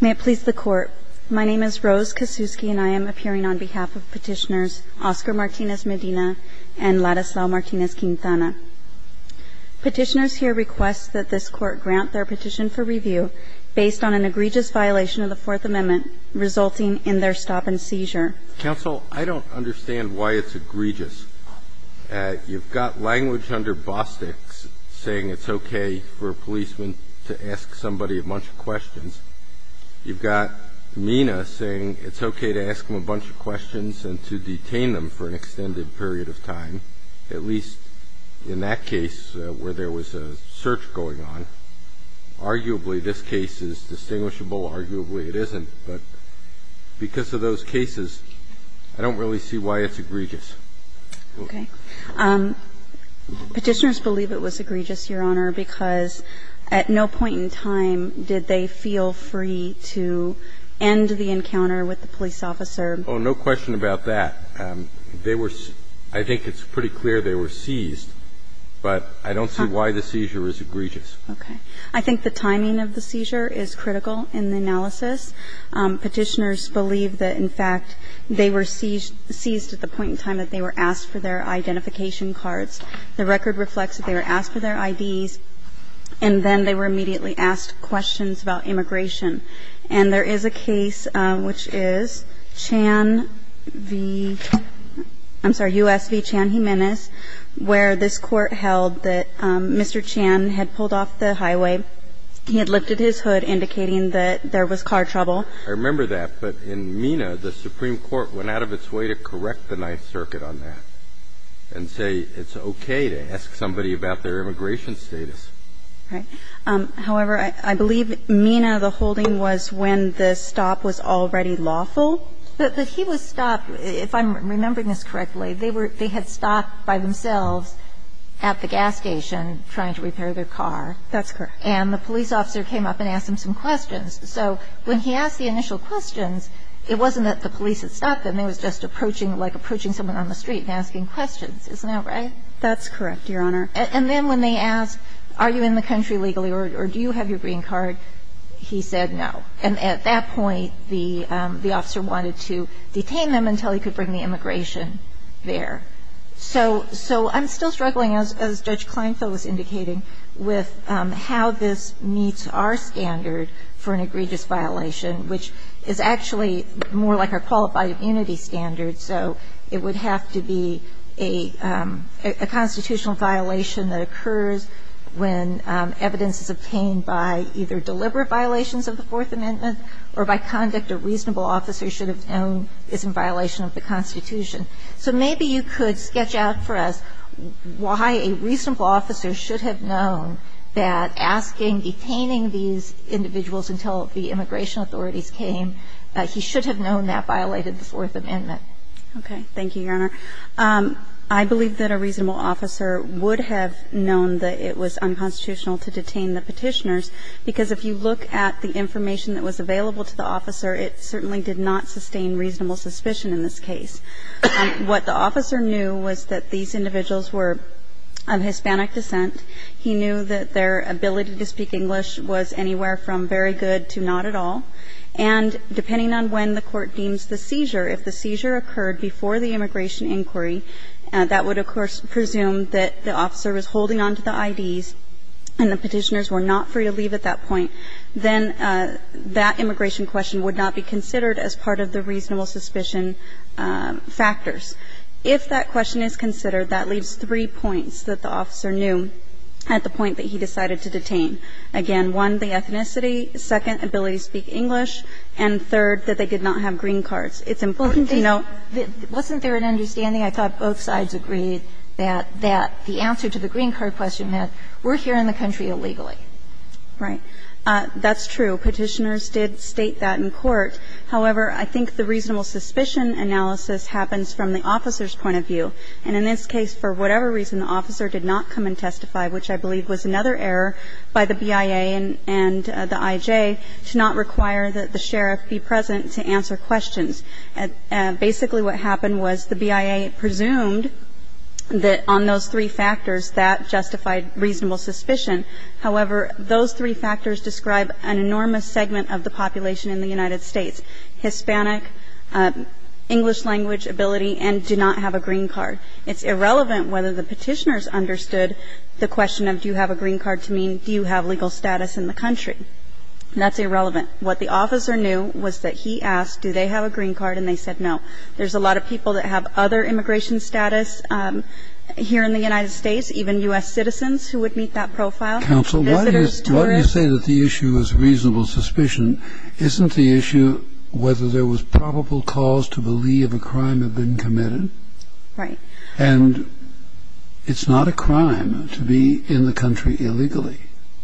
May it please the Court, my name is Rose Kosiewski and I am appearing on behalf of Petitioners Oscar Martinez-Medina and Ladislao Martinez-Quintana. Petitioners here request that this Court grant their petition for review based on an egregious violation of the Fourth Amendment resulting in their stop and seizure. Mr. Holder, counsel, I don't understand why it's egregious. You've got language under Bostick's saying it's okay for a policeman to ask somebody a bunch of questions. You've got Mina saying it's okay to ask them a bunch of questions and to detain them for an extended period of time, at least in that case where there was a search going on. Arguably, this case is distinguishable. Arguably, it isn't. But because of those cases, I don't really see why it's egregious. Okay. Petitioners believe it was egregious, Your Honor, because at no point in time did they feel free to end the encounter with the police officer. Oh, no question about that. They were – I think it's pretty clear they were seized, but I don't see why the seizure is egregious. Okay. I think the timing of the seizure is critical in the analysis. Petitioners believe that, in fact, they were seized at the point in time that they were asked for their identification cards. The record reflects that they were asked for their IDs, and then they were immediately asked questions about immigration. And there is a case which is Chan v. – I'm sorry, U.S. v. Chan-Jimenez, where this court held that Mr. Chan had pulled off the highway. He had lifted his hood, indicating that there was car trouble. I remember that. But in MENA, the Supreme Court went out of its way to correct the Ninth Circuit on that and say it's okay to ask somebody about their immigration status. Right. However, I believe MENA, the holding, was when the stop was already lawful. But he was stopped – if I'm remembering this correctly, they were – they had stopped by themselves at the gas station trying to repair their car. That's correct. And the police officer came up and asked them some questions. So when he asked the initial questions, it wasn't that the police had stopped them. It was just approaching – like approaching someone on the street and asking questions. Isn't that right? That's correct, Your Honor. And then when they asked, are you in the country legally or do you have your green card, he said no. And at that point, the officer wanted to detain them until he could bring the immigration there. So I'm still struggling, as Judge Kleinfeld was indicating, with how this meets our standard for an egregious violation, which is actually more like our qualified immunity standard. So it would have to be a constitutional violation that occurs when evidence is obtained by either deliberate violations of the Fourth Amendment or by conduct a reasonable officer should have known is in violation of the Constitution. So maybe you could sketch out for us why a reasonable officer should have known that asking, detaining these individuals until the immigration authorities came, he should have known that these individuals were of Hispanic descent. He knew that their ability to speak English was anywhere from very good to not at all. And depending on when the court deemed that these individuals were of Hispanic descent, Okay. Thank you, Your Honor. I would like to ask the question of whether or not the immigration question is considered at the point that the immigration officer deems the seizure. If the seizure occurred before the immigration inquiry, that would, of course, presume that the officer was holding on to the IDs and the Petitioners were not free to leave at that point, then that immigration question would not be considered as part of the reasonable suspicion factors. If that question is considered, that leaves three points that the officer knew at the point that he decided to detain. Again, one, the ethnicity. Second, ability to speak English. And third, that they did not have green cards. It's important to note. Wasn't there an understanding? I thought both sides agreed that the answer to the green card question, that we're here in the country illegally. Right. That's true. Petitioners did state that in court. However, I think the reasonable suspicion analysis happens from the officer's point of view. And in this case, for whatever reason, the officer did not come and testify, which I believe was another error by the BIA and the IJ to not require that the sheriff be present to answer questions. Basically what happened was the BIA presumed that on those three factors, that justified reasonable suspicion. However, those three factors describe an enormous segment of the population in the United States, Hispanic, English language ability, and do not have a green card. It's irrelevant whether the petitioners understood the question of do you have a green card to mean do you have legal status in the country. That's irrelevant. What the officer knew was that he asked do they have a green card and they said no. There's a lot of people that have other immigration status here in the United States, even U.S. citizens who would meet that profile. Counsel, why do you say that the issue is reasonable suspicion? Isn't the issue whether there was probable cause to believe a crime had been committed? Right. And it's not a crime to be in the country illegally.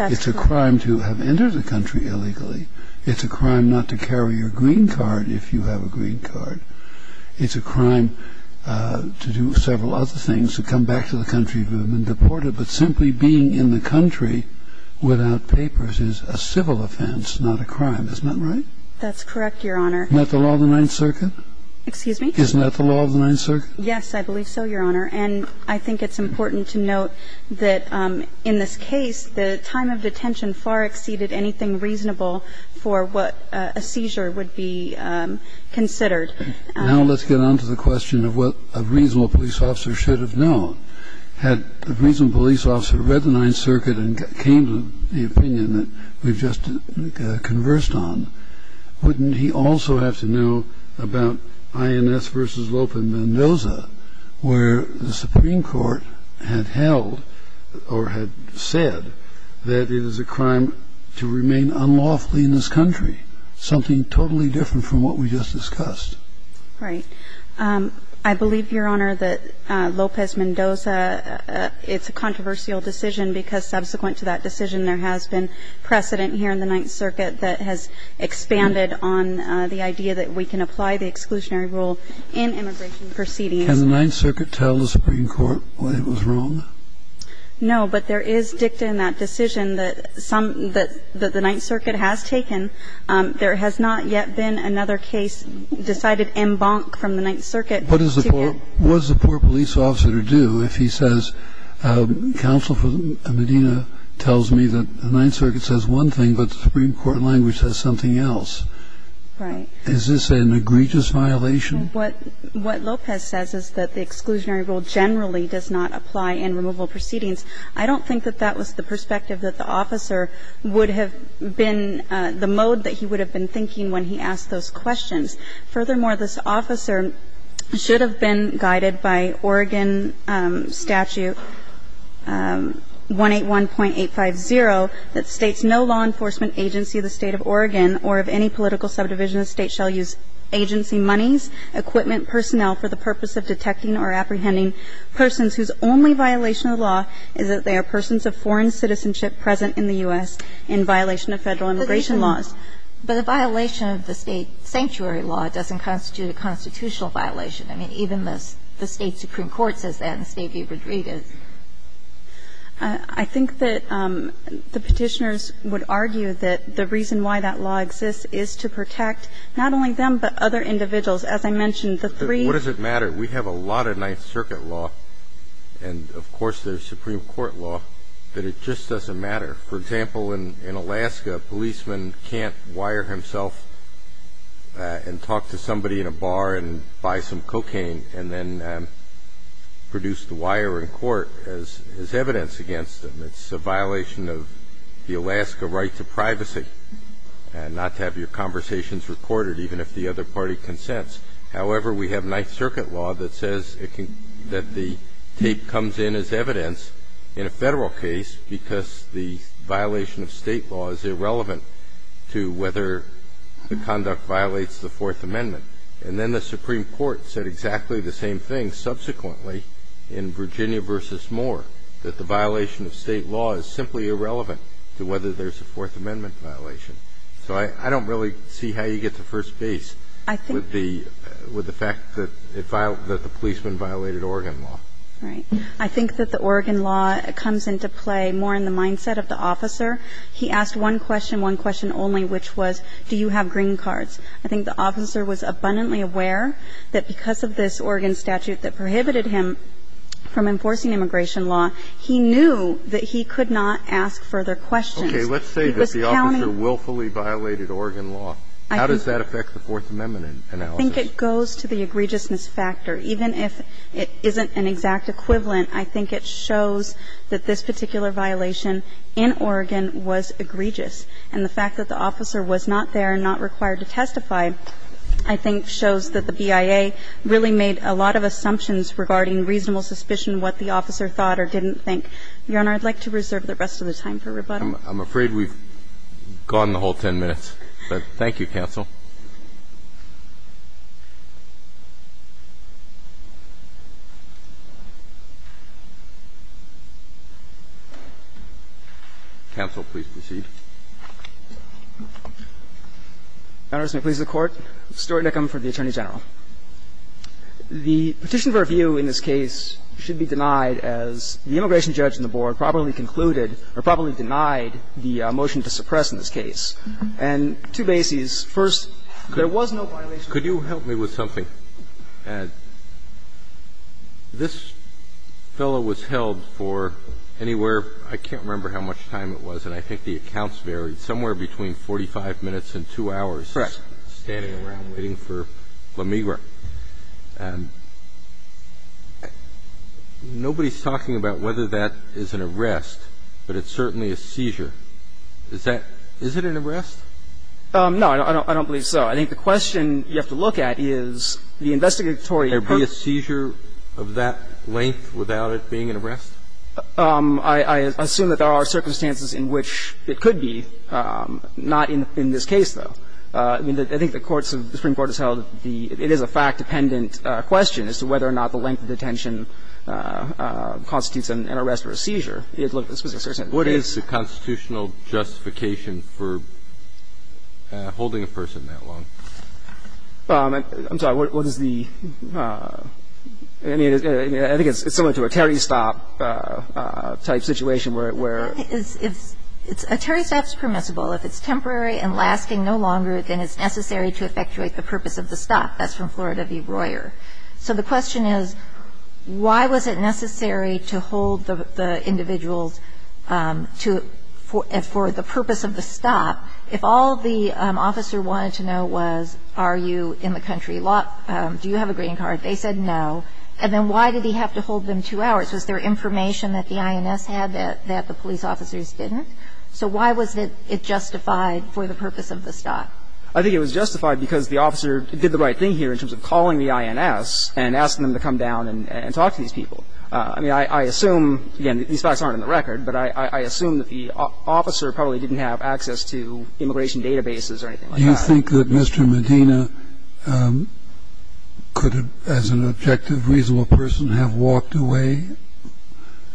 It's a crime to have entered the country illegally. It's a crime not to carry your green card if you have a green card. It's a crime to do several other things, to come back to the country who have been in the country without papers. It's a civil offense, not a crime. Isn't that right? That's correct, Your Honor. Isn't that the law of the Ninth Circuit? Excuse me? Isn't that the law of the Ninth Circuit? Yes, I believe so, Your Honor. And I think it's important to note that in this case, the time of detention far exceeded anything reasonable for what a seizure would be considered. Now let's get on to the question of what a reasonable police officer should have done. Had the reasonable police officer read the Ninth Circuit and came to the opinion that we've just conversed on, wouldn't he also have to know about INS versus Lope Mendoza, where the Supreme Court had held or had said that it is a crime to remain unlawfully in this country, something totally different from what we just discussed? Right. I believe, Your Honor, that Lopez Mendoza, it's a controversial decision because subsequent to that decision, there has been precedent here in the Ninth Circuit that has expanded on the idea that we can apply the exclusionary rule in immigration proceedings. Can the Ninth Circuit tell the Supreme Court that it was wrong? No, but there is dicta in that decision that the Ninth Circuit has taken. There has not yet been another case decided en banc from the Ninth Circuit. What is the poor police officer to do if he says counsel for Medina tells me that the Ninth Circuit says one thing, but the Supreme Court language says something else? Right. Is this an egregious violation? What Lopez says is that the exclusionary rule generally does not apply in removal proceedings. I don't think that that was the perspective that the officer would have been the mode that he would have been thinking when he asked those questions. Furthermore, this officer should have been guided by Oregon Statute 181.850 that states no law enforcement agency of the State of Oregon or of any political subdivision of the State shall use agency monies, equipment, personnel for the purpose of detecting or apprehending persons whose only violation of the law is that they are persons of foreign citizenship present in the U.S. in violation of Federal immigration laws. But the violation of the State sanctuary law doesn't constitute a constitutional violation. I mean, even the State supreme court says that, and the State viewpoint is. I think that the Petitioners would argue that the reason why that law exists is to protect not only them, but other individuals. As I mentioned, the three. What does it matter? We have a lot of Ninth Circuit law, and of course there's Supreme Court law, that it just doesn't matter. For example, in Alaska, a policeman can't wire himself and talk to somebody in a bar and buy some cocaine and then produce the wire in court as evidence against them. It's a violation of the Alaska right to privacy and not to have your conversations recorded, even if the other party consents. However, we have Ninth Circuit law that says that the tape comes in as evidence in a Federal case because the violation of State law is irrelevant to whether the conduct violates the Fourth Amendment. And then the Supreme Court said exactly the same thing subsequently in Virginia v. Moore, that the violation of State law is simply irrelevant to whether there's a Fourth Amendment violation. So I don't really see how you get to first base. I think the With the fact that the policeman violated Oregon law. Right. I think that the Oregon law comes into play more in the mindset of the officer. He asked one question, one question only, which was, do you have green cards? I think the officer was abundantly aware that because of this Oregon statute that prohibited him from enforcing immigration law, he knew that he could not ask further questions. Let's say that the officer willfully violated Oregon law. How does that affect the Fourth Amendment analysis? I think it goes to the egregiousness factor. Even if it isn't an exact equivalent, I think it shows that this particular violation in Oregon was egregious. And the fact that the officer was not there and not required to testify, I think, shows that the BIA really made a lot of assumptions regarding reasonable suspicion of what the officer thought or didn't think. Your Honor, I'd like to reserve the rest of the time for rebuttal. I'm afraid we've gone the whole 10 minutes. But thank you, counsel. Counsel, please proceed. Your Honor, may it please the Court. Stuart Nickham for the Attorney General. The petition for review in this case should be denied as the immigration judge in the board probably concluded or probably denied the motion to suppress in this case. And two bases. First, there was no violation of the First Amendment. Could you help me with something, Ed? This fellow was held for anywhere, I can't remember how much time it was, and I think the accounts varied, somewhere between 45 minutes and 2 hours. Correct. Standing around waiting for La Migra. Nobody's talking about whether that is an arrest, but it's certainly a seizure. Is that an arrest? No, I don't believe so. I think the question you have to look at is the investigatory purpose. Could there be a seizure of that length without it being an arrest? I assume that there are circumstances in which it could be, not in this case, though. I mean, I think the courts of the Supreme Court has held the – it is a fact that is a fact-dependent question as to whether or not the length of detention constitutes an arrest or a seizure. What is the constitutional justification for holding a person that long? I'm sorry. What is the – I mean, I think it's similar to a Terry stop type situation where – A Terry stop is permissible. If it's temporary and lasting no longer, then it's necessary to effectuate the purpose of the stop. That's from Florida v. Royer. So the question is, why was it necessary to hold the individuals to – for the purpose of the stop if all the officer wanted to know was, are you in the country? Do you have a green card? They said no. And then why did he have to hold them two hours? Was there information that the INS had that the police officers didn't? So why was it justified for the purpose of the stop? I think it was justified because the officer did the right thing here in terms of calling the INS and asking them to come down and talk to these people. I mean, I assume, again, these facts aren't on the record, but I assume that the officer probably didn't have access to immigration databases or anything like that. Do you think that Mr. Medina could have, as an objective, reasonable person, have walked away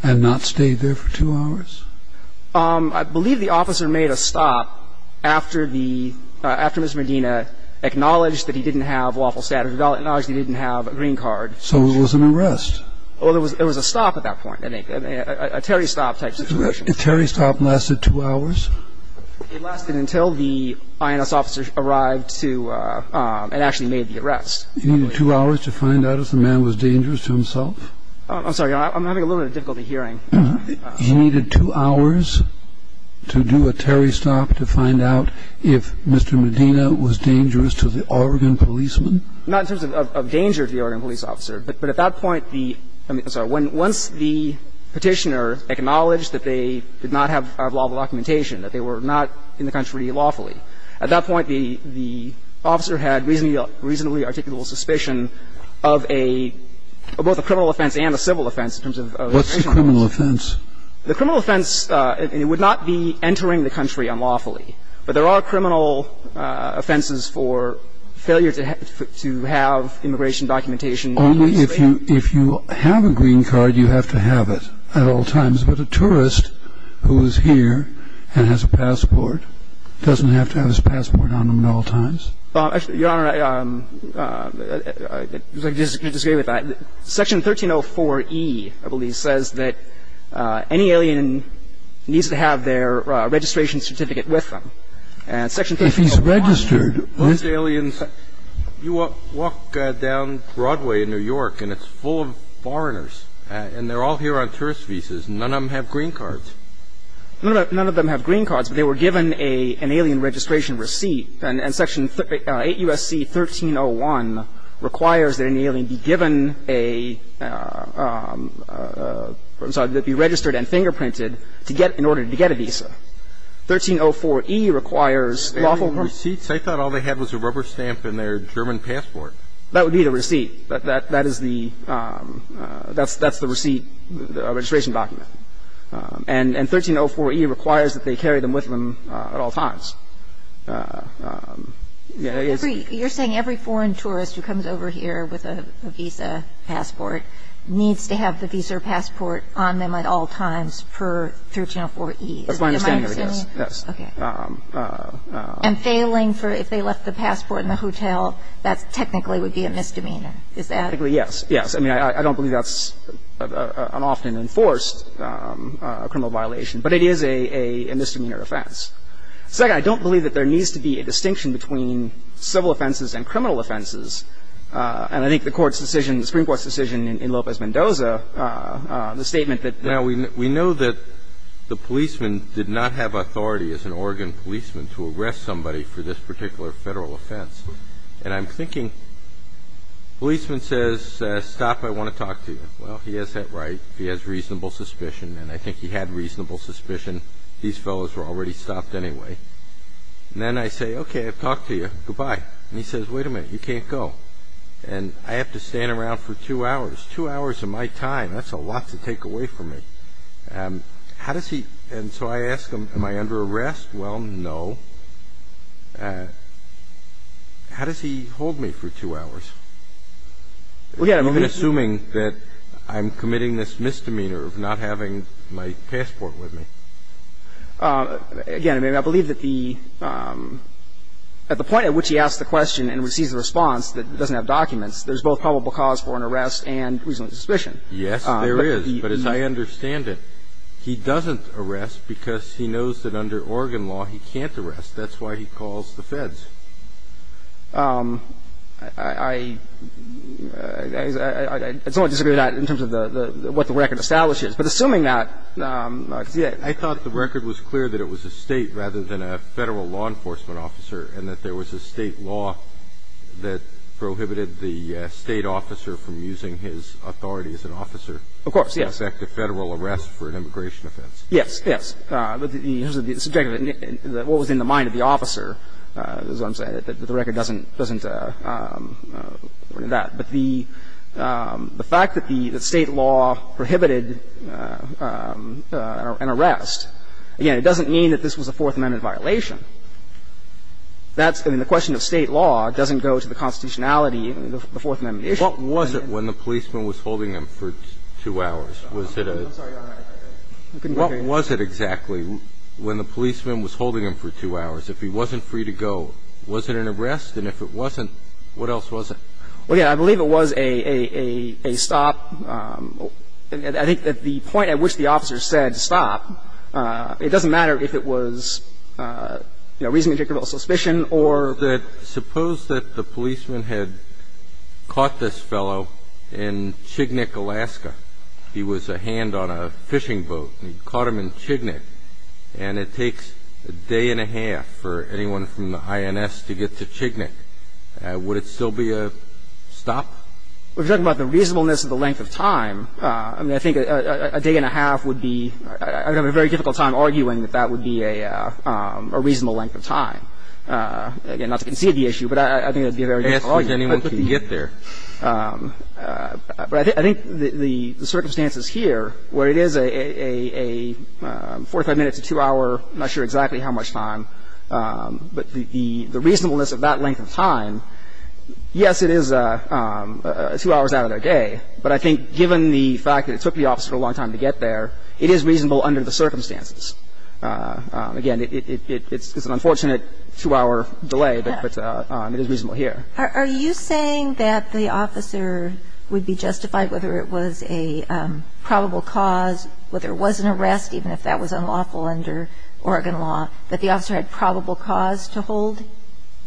and not stayed there for two hours? I believe the officer made a stop after the – after Mr. Medina acknowledged that he didn't have waffle status, acknowledged he didn't have a green card. So it was an arrest. Well, it was a stop at that point, I think. A Terry stop type situation. Did a Terry stop last two hours? It lasted until the INS officer arrived to – and actually made the arrest. He needed two hours to find out if the man was dangerous to himself? I'm sorry. I'm having a little bit of difficulty hearing. He needed two hours to do a Terry stop to find out if Mr. Medina was dangerous to the Oregon policeman? Not in terms of danger to the Oregon police officer. But at that point, the – I'm sorry. Once the Petitioner acknowledged that they did not have a lot of documentation, that they were not in the country lawfully, at that point, the officer had reasonably articulable suspicion of a – of both a criminal offense and a civil offense in terms of – What's the criminal offense? The criminal offense – and it would not be entering the country unlawfully. But there are criminal offenses for failure to have immigration documentation on the state. Only if you have a green card, you have to have it at all times. But a tourist who is here and has a passport doesn't have to have his passport on him at all times? Your Honor, I disagree with that. Section 1304E, I believe, says that any alien needs to have their registration certificate with them. If he's registered, what – Most aliens – you walk down Broadway in New York and it's full of foreigners and they're all here on tourist visas. None of them have green cards. None of them have green cards, but they were given an alien registration receipt. And Section 8 U.S.C. 1301 requires that any alien be given a – I'm sorry, be registered and fingerprinted to get – in order to get a visa. 1304E requires lawful – Alien receipts? I thought all they had was a rubber stamp and their German passport. That would be the receipt. That is the – that's the receipt, registration document. And 1304E requires that they carry them with them at all times. You're saying every foreign tourist who comes over here with a visa passport needs to have the visa or passport on them at all times per 1304E? That's my understanding of it, yes. Okay. And failing for – if they left the passport in the hotel, that technically would be a misdemeanor. Is that – Technically, yes. Yes. I mean, I don't believe that's an often enforced criminal violation, but it is a misdemeanor offense. Second, I don't believe that there needs to be a distinction between civil offenses and criminal offenses. And I think the Court's decision, the Supreme Court's decision in Lopez Mendoza, the statement that – Now, we know that the policeman did not have authority as an Oregon policeman to arrest somebody for this particular Federal offense. And I'm thinking, policeman says, stop, I want to talk to you. Well, he has that right. He has reasonable suspicion. And I think he had reasonable suspicion. These fellows were already stopped anyway. And then I say, okay, I've talked to you, goodbye. And he says, wait a minute, you can't go. And I have to stand around for two hours, two hours of my time. That's a lot to take away from me. How does he – and so I ask him, am I under arrest? Well, no. How does he hold me for two hours, even assuming that I'm committing this misdemeanor of not having my passport with me? Again, I mean, I believe that the – at the point at which he asks the question and receives a response that doesn't have documents, there's both probable cause for an arrest and reasonable suspicion. Yes, there is. But as I understand it, he doesn't arrest because he knows that under Oregon law he can't arrest. That's why he calls the Feds. I don't disagree with that in terms of what the record establishes. But assuming that – I thought the record was clear that it was a State rather than a Federal law enforcement officer and that there was a State law that prohibited the State officer from using his authority as an officer. Of course, yes. To expect a Federal arrest for an immigration offense. Yes, yes. The subject of it, what was in the mind of the officer, is what I'm saying, that the record doesn't – doesn't do that. But the fact that the State law prohibited an arrest, again, it doesn't mean that this was a Fourth Amendment violation. That's – I mean, the question of State law doesn't go to the constitutionality of the Fourth Amendment issue. What was it when the policeman was holding him for two hours? Was it a – I'm sorry, Your Honor. I couldn't hear you. What was it exactly when the policeman was holding him for two hours? If he wasn't free to go, was it an arrest? And if it wasn't, what else was it? Well, yeah. I believe it was a stop. I think that the point at which the officer said stop, it doesn't matter if it was, you know, reasonably indicative of suspicion or – But suppose that the policeman had caught this fellow in Chignik, Alaska. He was a hand on a fishing boat. He caught him in Chignik. And it takes a day and a half for anyone from the INS to get to Chignik. Would it still be a stop? We're talking about the reasonableness of the length of time. I mean, I think a day and a half would be – I would have a very difficult time arguing that that would be a reasonable length of time. Again, not to concede the issue, but I think that would be a very difficult argument. Asking anyone to get there. But I think the circumstances here, where it is a 45-minute to 2-hour, I'm not sure exactly how much time, but the reasonableness of that length of time, yes, it is two hours out of their day. But I think given the fact that it took the officer a long time to get there, it is reasonable under the circumstances. Again, it's an unfortunate two-hour delay, but it is reasonable here. Are you saying that the officer would be justified whether it was a probable cause, whether it was an arrest, even if that was unlawful under Oregon law, that the officer had probable cause to hold –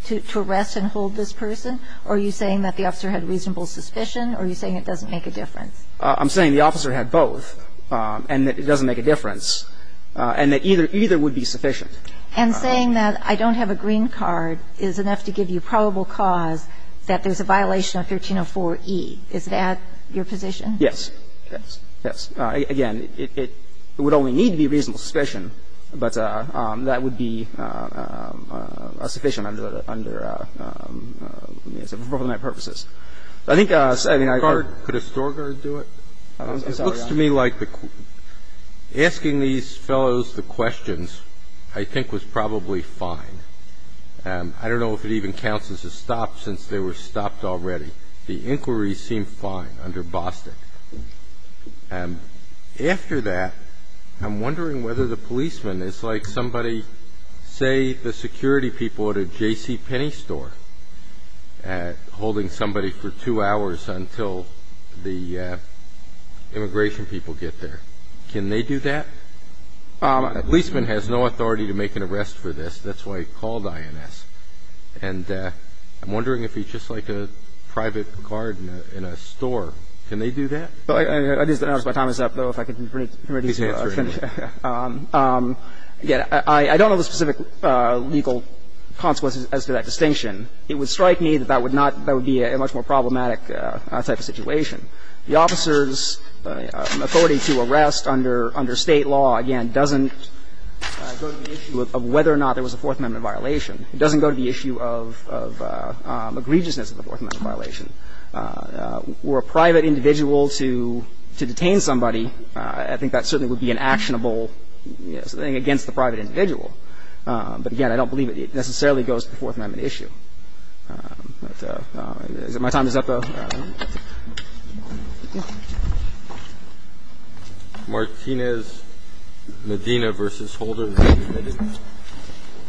to arrest and hold this person? Or are you saying that the officer had reasonable suspicion, or are you saying it doesn't make a difference? I'm saying the officer had both, and that it doesn't make a difference, and that either would be sufficient. And saying that I don't have a green card is enough to give you probable cause that there's a violation of 1304e. Is that your position? Yes. Yes. Yes. Again, it would only need to be reasonable suspicion, but that would be a sufficient under – for both of my purposes. I think, I mean, I heard – Could a store guard do it? I'm sorry, Your Honor. It looks to me like asking these fellows the questions I think was probably fine. I don't know if it even counts as a stop since they were stopped already. The inquiries seem fine under Bostick. After that, I'm wondering whether the policeman is like somebody, say, the security people at a J.C. Penney store holding somebody for two hours until the immigration people get there. Can they do that? A policeman has no authority to make an arrest for this. That's why he's called INS. And I'm wondering if he's just like a private guard in a store. Can they do that? I just didn't notice my time was up, though, if I could bring it up. Please answer it. Again, I don't know the specific legal consequences as to that distinction. It would strike me that that would not – that would be a much more problematic type of situation. The officer's authority to arrest under State law, again, doesn't go to the issue of whether or not there was a Fourth Amendment violation. It doesn't go to the issue of egregiousness of the Fourth Amendment violation. For a private individual to detain somebody, I think that certainly would be an actionable thing against the private individual. But, again, I don't believe it necessarily goes to the Fourth Amendment issue. But my time is up, though. Martinez, Medina v. Holder.